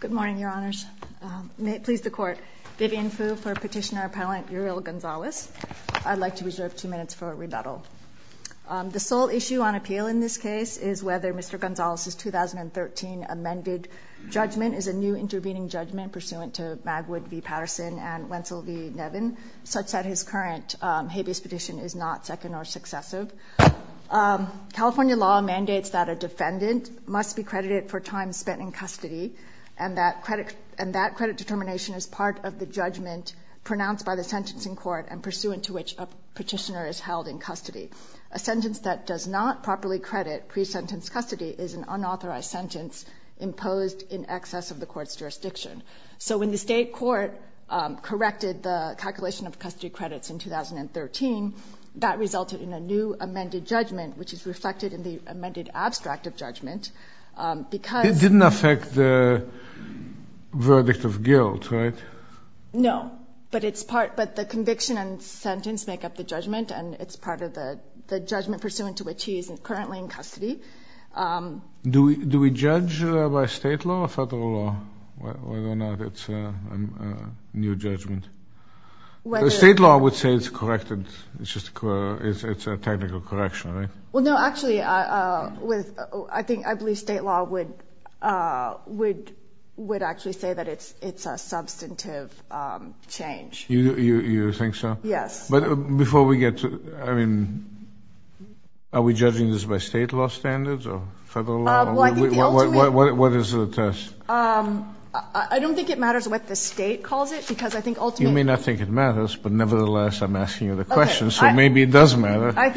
Good morning, Your Honors. May it please the Court, Vivian Fu for Petitioner-Appellant Uriel Gonzalez. I'd like to reserve two minutes for rebuttal. The sole issue on appeal in this case is whether Mr. Gonzalez's 2013 amended judgment is a new intervening judgment pursuant to Magwood v. Patterson and Wentzel v. Nevin, such that his current habeas petition is not second or successive. California law mandates that a defendant must be credited for time spent in custody, and that credit determination is part of the judgment pronounced by the sentencing court and pursuant to which a petitioner is held in custody. A sentence that does not properly credit pre-sentence custody is an unauthorized sentence imposed in excess of the court's jurisdiction. So when the state court corrected the calculation of custody in 2013, that resulted in a new amended judgment, which is reflected in the amended abstract of judgment, because... It didn't affect the verdict of guilt, right? No, but the conviction and sentence make up the judgment, and it's part of the judgment pursuant to which he is currently in custody. Do we judge by state law or federal law whether or not it's a new amendment? It's a technical correction, right? Well, no, actually, I believe state law would actually say that it's a substantive change. You think so? Yes. But before we get to... Are we judging this by state law standards or federal law? What is the test? I don't think it matters what the state calls it, because I think ultimately... You may not think it matters, but nevertheless, I'm asking you the question, so maybe it does matter. I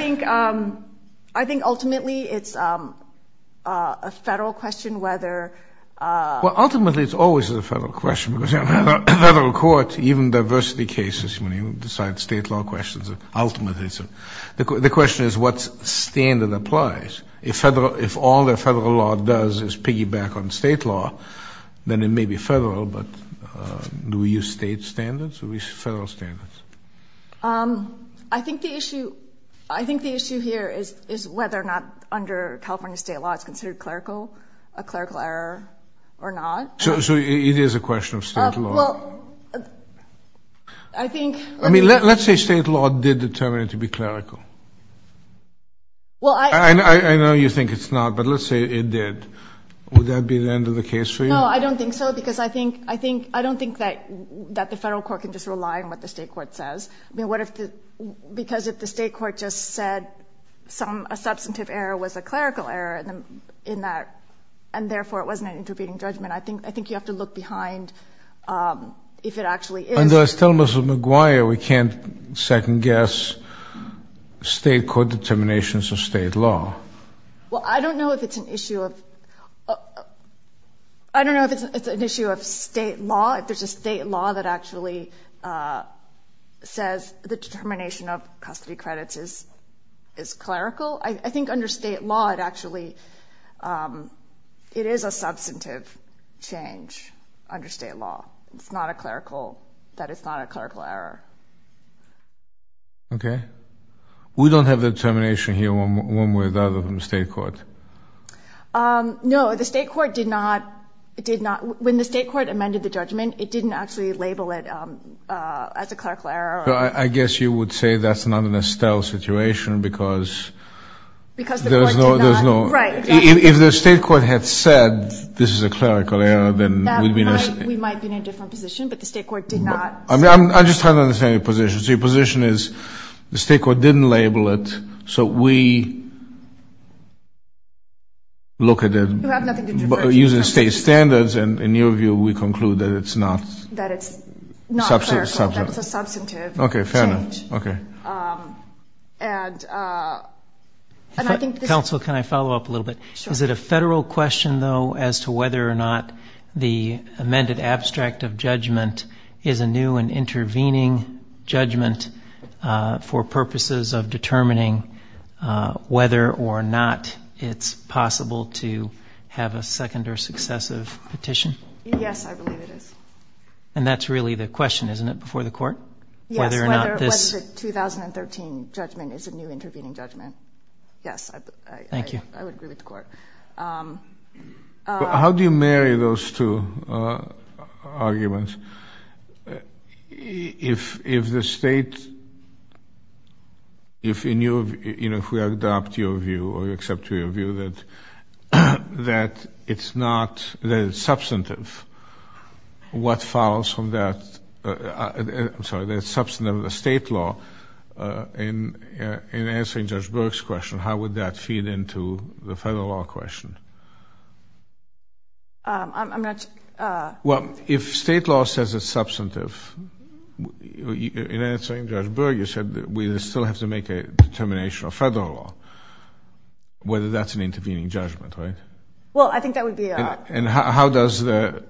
think ultimately, it's a federal question whether... Well, ultimately, it's always a federal question, because in a federal court, even diversity cases, when you decide state law questions, ultimately, it's a... The question is what standard applies. If all the federal law does is piggyback on state law, then it may be federal, but do we use state standards? Do we use federal standards? I think the issue here is whether or not, under California state law, it's considered clerical, a clerical error or not. So it is a question of state law? Well, I think... I mean, let's say state law did determine it to be clerical. I know you think it's not, but let's say it did. Would that be the end of the case for you? No, I don't think so, because I think... I don't think that the federal court can just rely on what the state court says. I mean, what if the... Because if the state court just said some... A substantive error was a clerical error in that, and therefore, it wasn't an intervening judgment. I think you have to look behind if it actually is. Under Estella-Mussel McGuire, we can't second guess state court determinations of state law. Well, I don't know if it's an issue of... I don't know if it's an issue of state law, if there's a state law that actually says the determination of custody credits is clerical. I think under state law, it actually... It is a substantive change under state law. It's not a clerical... That it's not a clerical error. Okay. We don't have the determination here one way or the other from the state court. No, the state court did not... When the state court amended the judgment, it didn't actually label it as a clerical error. I guess you would say that's not an Estella situation, because there's no... Because the court did not... Right. If the state court had said this is a clerical error, then we'd be in a... We might be in a different position, but the state court did not... I'm just trying to understand your position. So your position is the state court didn't label it, so we look at it... You have nothing to do with... Using state standards, and in your view, we conclude that it's not... That it's not clerical. Substantive. That it's a substantive change. Okay. Fair enough. Okay. And I think this... Counsel, can I follow up a little bit? Sure. Is it a federal question, though, as to whether or not the amended abstract of judgment is a new and intervening judgment for purposes of determining whether or not it's possible to have a second or successive petition? Yes, I believe it is. And that's really the question, isn't it, before the court? Yes. Whether or not this... Whether the 2013 judgment is a new intervening judgment. Yes. Thank you. I would agree with the court. How do you marry those two arguments? If the state... If in your... You know, if we adopt your view or accept your view that it's not... That it's substantive. What follows from that... I'm sorry. That it's substantive of the state law in answering Judge Burke's question, how would that feed into the federal law question? I'm not... Well, if state law says it's substantive, in answering Judge Burke, you said we still have to make a determination of federal law, whether that's an intervening judgment, right? Well, I think that would be... And how does the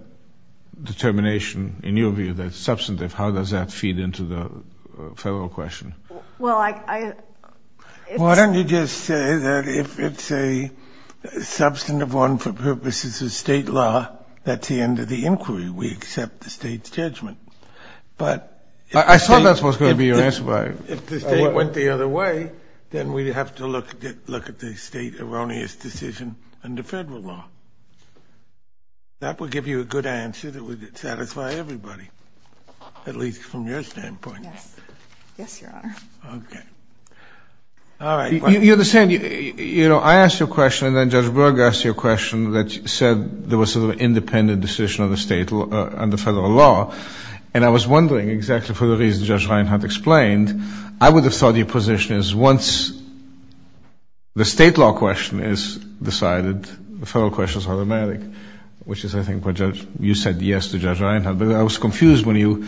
determination, in your view, that it's substantive, how does that feed into the federal question? Well, I... Why don't you just say that if it's a substantive one for purposes of state law, that's the end of the inquiry. We accept the state's judgment. But... I thought that was going to be your answer. If the state went the other way, then we'd have to look at the state erroneous decision under federal law. That would give you a good answer that would satisfy everybody, at least from your standpoint. Yes. Yes, Your Honor. Okay. All right. You're the same. You know, I asked you a question, and then Judge Burke asked you a question that said there was an independent decision of the state under federal law. And I was wondering exactly for the reason Judge Reinhart explained, I would have thought your position is once the state law question is decided, the federal question is automatic, which is, I think, what you said yes to Judge Reinhart. But I was confused when you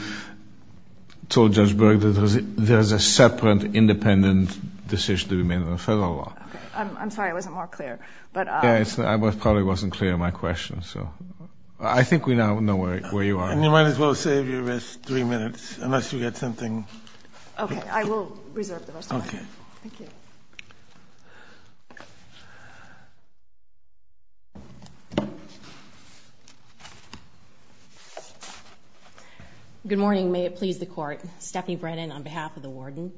told Judge Burke that there is a separate independent decision to be made under federal law. I'm sorry. I wasn't more clear. I probably wasn't clear in my question. So I think we now know where you are. And you might as well save your rest three minutes unless you get something. Okay. I will reserve the rest of my time. Okay. Thank you. Good morning. May it please the Court. Stephanie Brennan on behalf of the warden.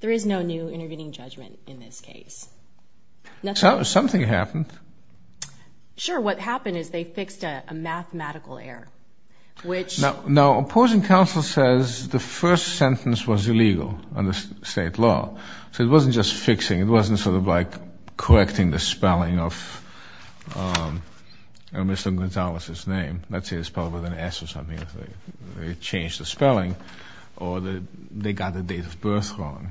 There is no new intervening judgment in this case. Something happened. Sure. What happened is they fixed a mathematical error, which... Now, opposing counsel says the first sentence was illegal under state law. So it wasn't just fixing. It wasn't sort of like correcting the spelling of Mr. Gonzalez's name. Let's say it's spelled with an S or something. They changed the spelling. Or they got the date of birth wrong.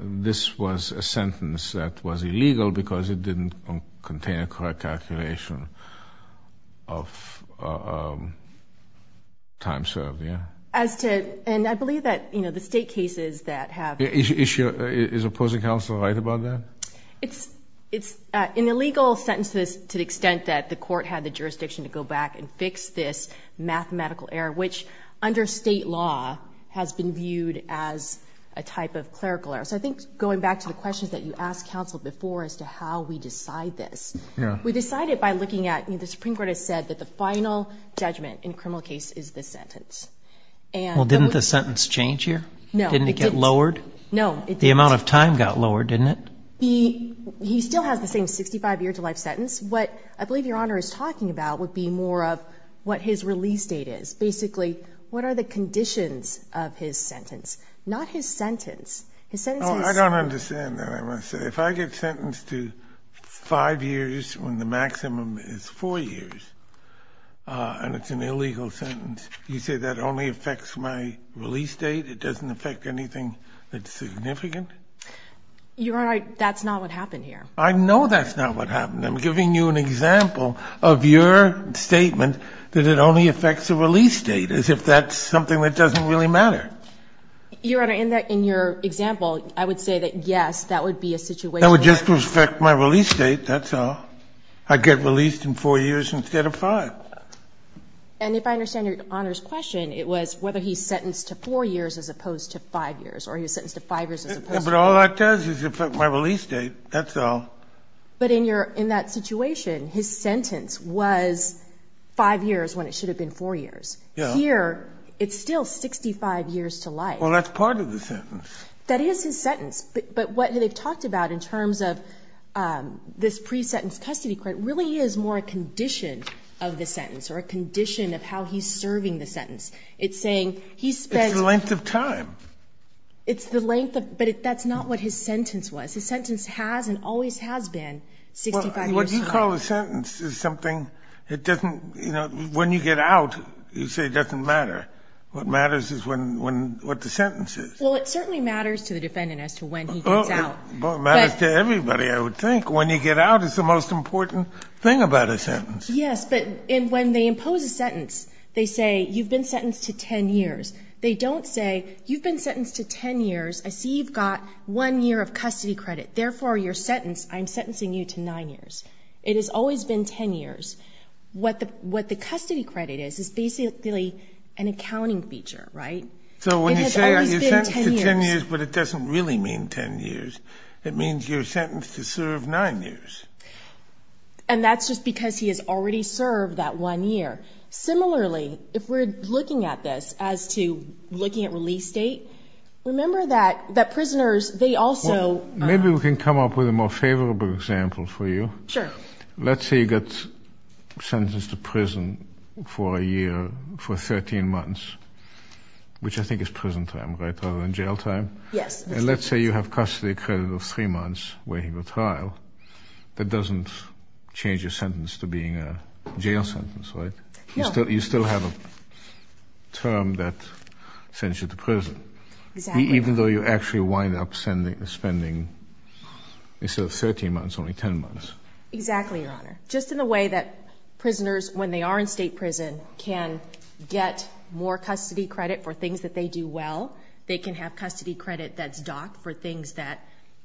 This was a sentence that was illegal because it didn't contain a correct calculation of time served. And I believe that the state cases that have... Is opposing counsel right about that? It's an illegal sentence to the extent that the court had the jurisdiction to go back and fix this mathematical error, which under state law has been viewed as a type of clerical error. So I think going back to the questions that you asked counsel before as to how we decide this, we decided by looking at... The Supreme Court has said that the final judgment in a criminal case is this sentence. Well, didn't the sentence change here? No. Didn't it get lowered? No. The amount of time got lowered, didn't it? He still has the same 65-year-to-life sentence. What I believe Your Honor is talking about would be more of what his release date is. Basically, what are the conditions of his sentence? Not his sentence. His sentence is... I don't understand that, I must say. If I get sentenced to 5 years when the maximum is 4 years and it's an illegal sentence, you say that only affects my release date, it doesn't affect anything that's significant? Your Honor, that's not what happened here. I know that's not what happened. I'm giving you an example of your statement that it only affects the release date, as if that's something that doesn't really matter. Your Honor, in your example, I would say that, yes, that would be a situation... That would just affect my release date, that's all. I get released in 4 years instead of 5. And if I understand Your Honor's question, it was whether he's sentenced to 4 years as opposed to 5 years, or he was sentenced to 5 years as opposed to... But all that does is affect my release date, that's all. But in that situation, his sentence was 5 years when it should have been 4 years. Here, it's still 65 years to life. Well, that's part of the sentence. That is his sentence. But what they've talked about in terms of this pre-sentence custody court really is more a condition of the sentence or a condition of how he's serving the sentence. It's saying he spent... It's the length of time. It's the length of... But that's not what his sentence was. His sentence has and always has been 65 years. What you call a sentence is something that doesn't... When you get out, you say it doesn't matter. What matters is what the sentence is. Well, it certainly matters to the defendant as to when he gets out. It matters to everybody, I would think. When you get out, it's the most important thing about a sentence. Yes, but when they impose a sentence, they say, you've been sentenced to 10 years. They don't say, you've been sentenced to 10 years. I see you've got 1 year of custody credit. Therefore, your sentence, I'm sentencing you to 9 years. It has always been 10 years. What the custody credit is is basically an accounting feature, right? So when you say you're sentenced to 10 years, but it doesn't really mean 10 years, it means you're sentenced to serve 9 years. And that's just because he has already served that 1 year. Similarly, if we're looking at this as to looking at release date, remember that prisoners, they also... Maybe we can come up with a more favorable example for you. Sure. Let's say you get sentenced to prison for a year for 13 months, which I think is prison time rather than jail time. Yes. And let's say you have custody credit of 3 months waiting for trial. That doesn't change your sentence to being a jail sentence, right? No. You still have a term that sends you to prison. Exactly. Even though you actually wind up spending, instead of 13 months, only 10 months. Exactly, Your Honor. Just in the way that prisoners, when they are in state prison, can get more custody credit for things that they do well. They can have custody credit that's docked for things that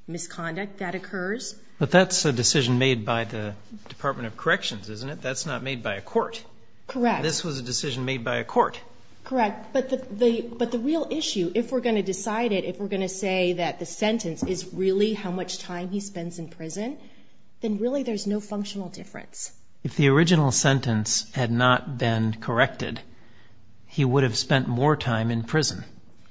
misconduct that occurs. But that's a decision made by the Department of Corrections, isn't it? That's not made by a court. Correct. This was a decision made by a court. Correct. But the real issue, if we're going to decide it, if we're going to say that the sentence is really how much time he spends in prison, then really there's no functional difference. If the original sentence had not been corrected, he would have spent more time in prison,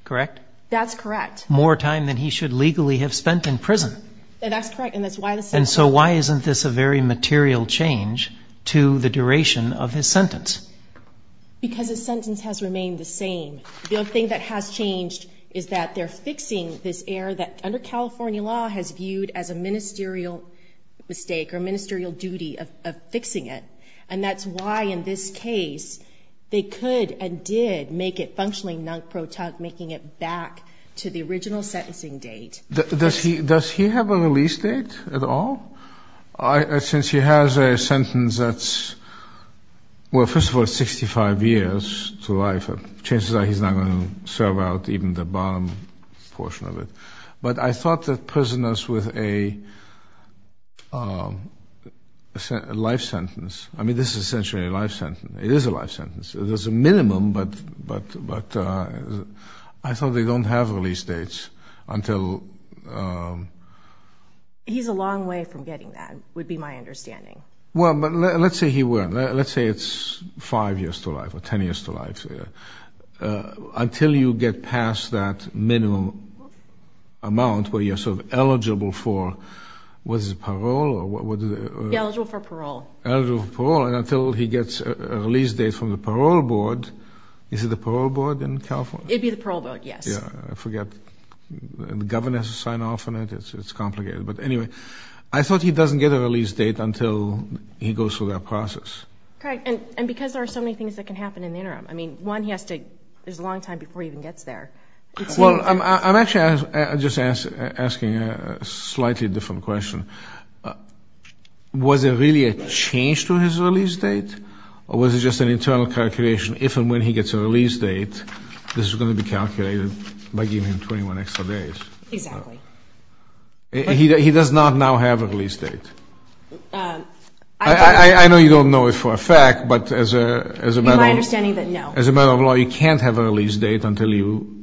correct? That's correct. More time than he should legally have spent in prison. That's correct, and that's why the sentence. And so why isn't this a very material change to the duration of his sentence? Because his sentence has remained the same. The only thing that has changed is that they're fixing this error that, under California law, has viewed as a ministerial mistake or a ministerial duty of fixing it. And that's why, in this case, they could and did make it functionally non-protonic, making it back to the original sentencing date. Does he have a release date at all? Since he has a sentence that's, well, first of all, 65 years to life, chances are he's not going to serve out even the bottom portion of it. But I thought that prisoners with a life sentence, I mean this is essentially a life sentence. It is a life sentence. There's a minimum, but I thought they don't have release dates until... He's a long way from getting that, would be my understanding. Well, but let's say he were. Let's say it's 5 years to life or 10 years to life. Until you get past that minimum amount where you're sort of eligible for, what is it, parole? Be eligible for parole. Eligible for parole. And until he gets a release date from the parole board, is it the parole board in California? It would be the parole board, yes. I forget. The governor has to sign off on it. It's complicated. But anyway, I thought he doesn't get a release date until he goes through that process. Correct. And because there are so many things that can happen in the interim. I mean, one, he has to, there's a long time before he even gets there. Well, I'm actually just asking a slightly different question. Was there really a change to his release date? Or was it just an internal calculation, if and when he gets a release date, this is going to be calculated by giving him 21 extra days? Exactly. He does not now have a release date. I know you don't know it for a fact, but as a matter of law. It would be my understanding that no. As a matter of law, you can't have a release date until you.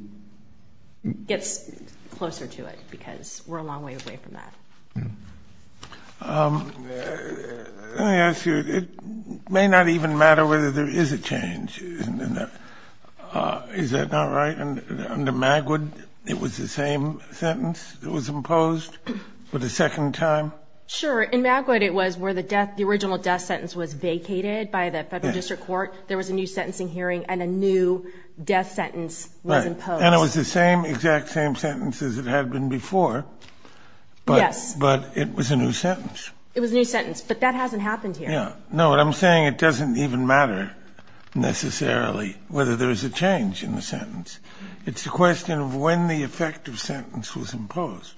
Gets closer to it, because we're a long way away from that. Let me ask you, it may not even matter whether there is a change, isn't it? Is that not right? Under Magwood, it was the same sentence that was imposed for the second time? Sure. In Magwood, it was where the original death sentence was vacated by the federal district court. There was a new sentencing hearing, and a new death sentence was imposed. Right. And it was the same, exact same sentence as it had been before. Yes. But it was a new sentence. It was a new sentence, but that hasn't happened here. No, what I'm saying, it doesn't even matter necessarily whether there's a change in the sentence. It's a question of when the effective sentence was imposed.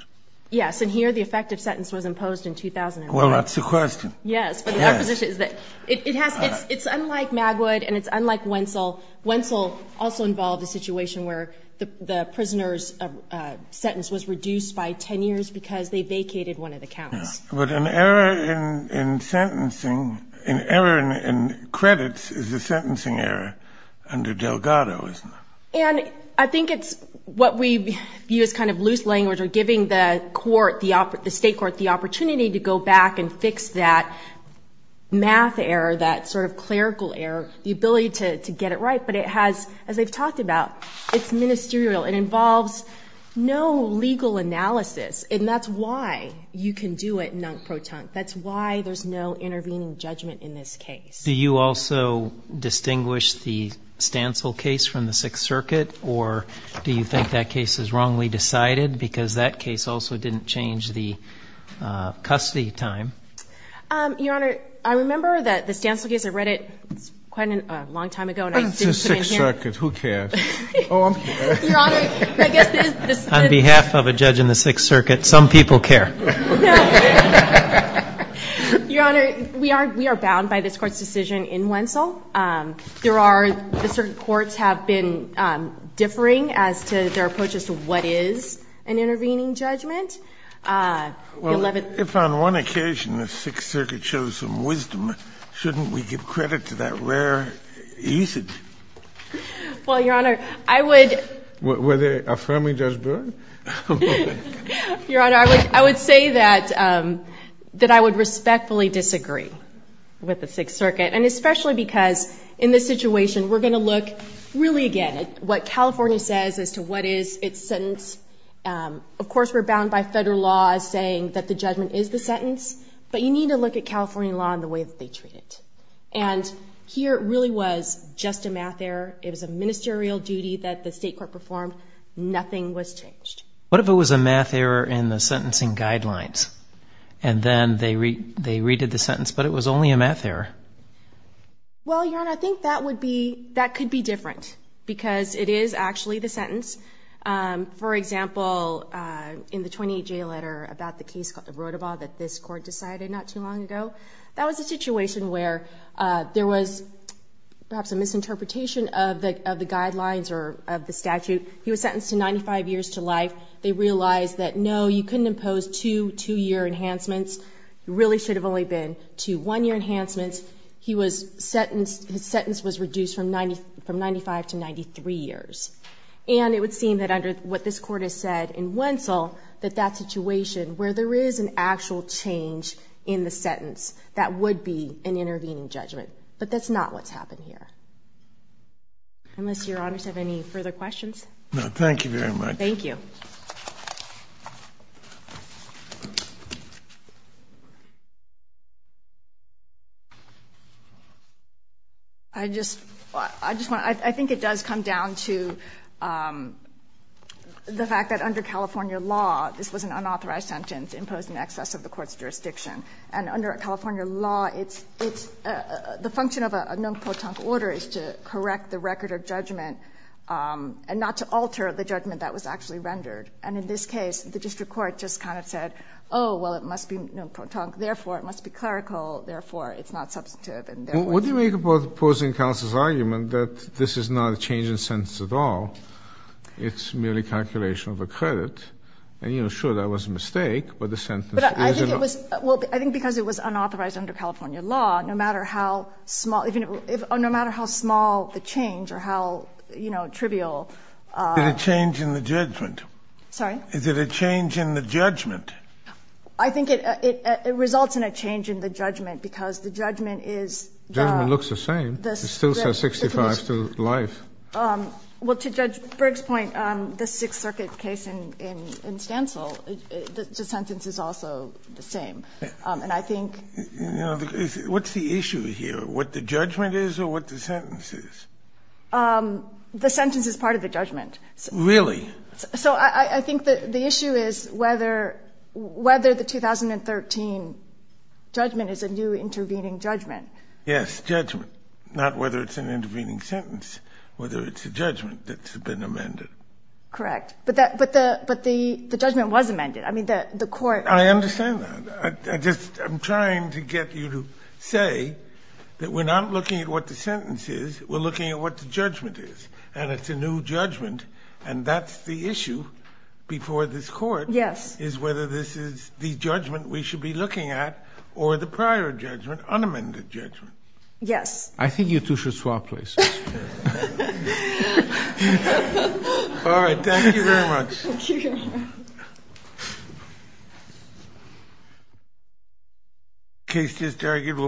Yes. And here the effective sentence was imposed in 2005. Well, that's the question. Yes. But our position is that it has, it's unlike Magwood and it's unlike Wentzel. Wentzel also involved a situation where the prisoner's sentence was reduced by 10 years because they vacated one of the counts. But an error in sentencing, an error in credits is a sentencing error under Delgado, isn't it? And I think it's what we view as kind of loose language or giving the court, the state court, the opportunity to go back and fix that math error, that sort of clerical error, the ability to get it right. But it has, as I've talked about, it's ministerial. It involves no legal analysis, and that's why you can do it non-proton. That's why there's no intervening judgment in this case. Do you also distinguish the Stancil case from the Sixth Circuit, or do you think that case is wrongly decided because that case also didn't change the custody time? Your Honor, I remember that the Stancil case, I read it quite a long time ago and I didn't put it in here. It's the Sixth Circuit. Who cares? Oh, I'm sorry. Your Honor, I guess this is the... On behalf of a judge in the Sixth Circuit, some people care. No. Your Honor, we are bound by this Court's decision in Wentzel. There are the certain courts have been differing as to their approaches to what is an intervening judgment. Well, if on one occasion the Sixth Circuit shows some wisdom, shouldn't we give credit to that rare ethic? Well, Your Honor, I would... Were they affirming Judge Brewer? Your Honor, I would say that I would respectfully disagree with the Sixth Circuit, and especially because in this situation we're going to look really again at what California says as to what is its sentence. Of course, we're bound by federal law as saying that the judgment is the sentence, but you need to look at California law and the way that they treat it. And here it really was just a math error. It was a ministerial duty that the State Court performed. Nothing was changed. What if it was a math error in the sentencing guidelines, and then they redid the sentence, but it was only a math error? Well, Your Honor, I think that could be different because it is actually the sentence. For example, in the 28-J letter about the case of Rotoba that this Court decided not too long ago, that was a situation where there was perhaps a misinterpretation of the guidelines or of the statute. He was sentenced to 95 years to life. They realized that, no, you couldn't impose two two-year enhancements. It really should have only been two one-year enhancements. His sentence was reduced from 95 to 93 years. And it would seem that under what this Court has said in Wentzell, that that situation, where there is an actual change in the sentence, that would be an intervening judgment. But that's not what's happened here. Unless Your Honors have any further questions. No, thank you very much. Thank you. I just want to, I think it does come down to the fact that under California law, this was an unauthorized sentence imposed in excess of the Court's jurisdiction. And under California law, it's, the function of a non-potent order is to correct the record of judgment and not to alter the judgment that was actually rendered. And in this case, the district court just kind of said, oh, well, it must be non-potent. Therefore, it must be clerical. Therefore, it's not substantive. What do you make about opposing counsel's argument that this is not a change in sentence at all? It's merely calculation of a credit. And, you know, sure, that was a mistake, but the sentence is not. But I think it was, well, I think because it was unauthorized under California law, no matter how small, no matter how small the change or how, you know, trivial. Is it a change in the judgment? Sorry? Is it a change in the judgment? I think it results in a change in the judgment because the judgment is the. Judgment looks the same. It still says 65 to life. Well, to Judge Briggs' point, the Sixth Circuit case in Stancil, the sentence is also the same. And I think. You know, what's the issue here? What the judgment is or what the sentence is? The sentence is part of the judgment. Really? So I think the issue is whether the 2013 judgment is a new intervening judgment. Yes, judgment. Not whether it's an intervening sentence, whether it's a judgment that's been amended. Correct. But the judgment was amended. I mean, the court. I understand that. I just am trying to get you to say that we're not looking at what the sentence is. We're looking at what the judgment is. And it's a new judgment. And that's the issue before this court. Yes. Is whether this is the judgment we should be looking at or the prior judgment, unamended judgment. Yes. I think you two should swap places. All right. Thank you very much. Thank you.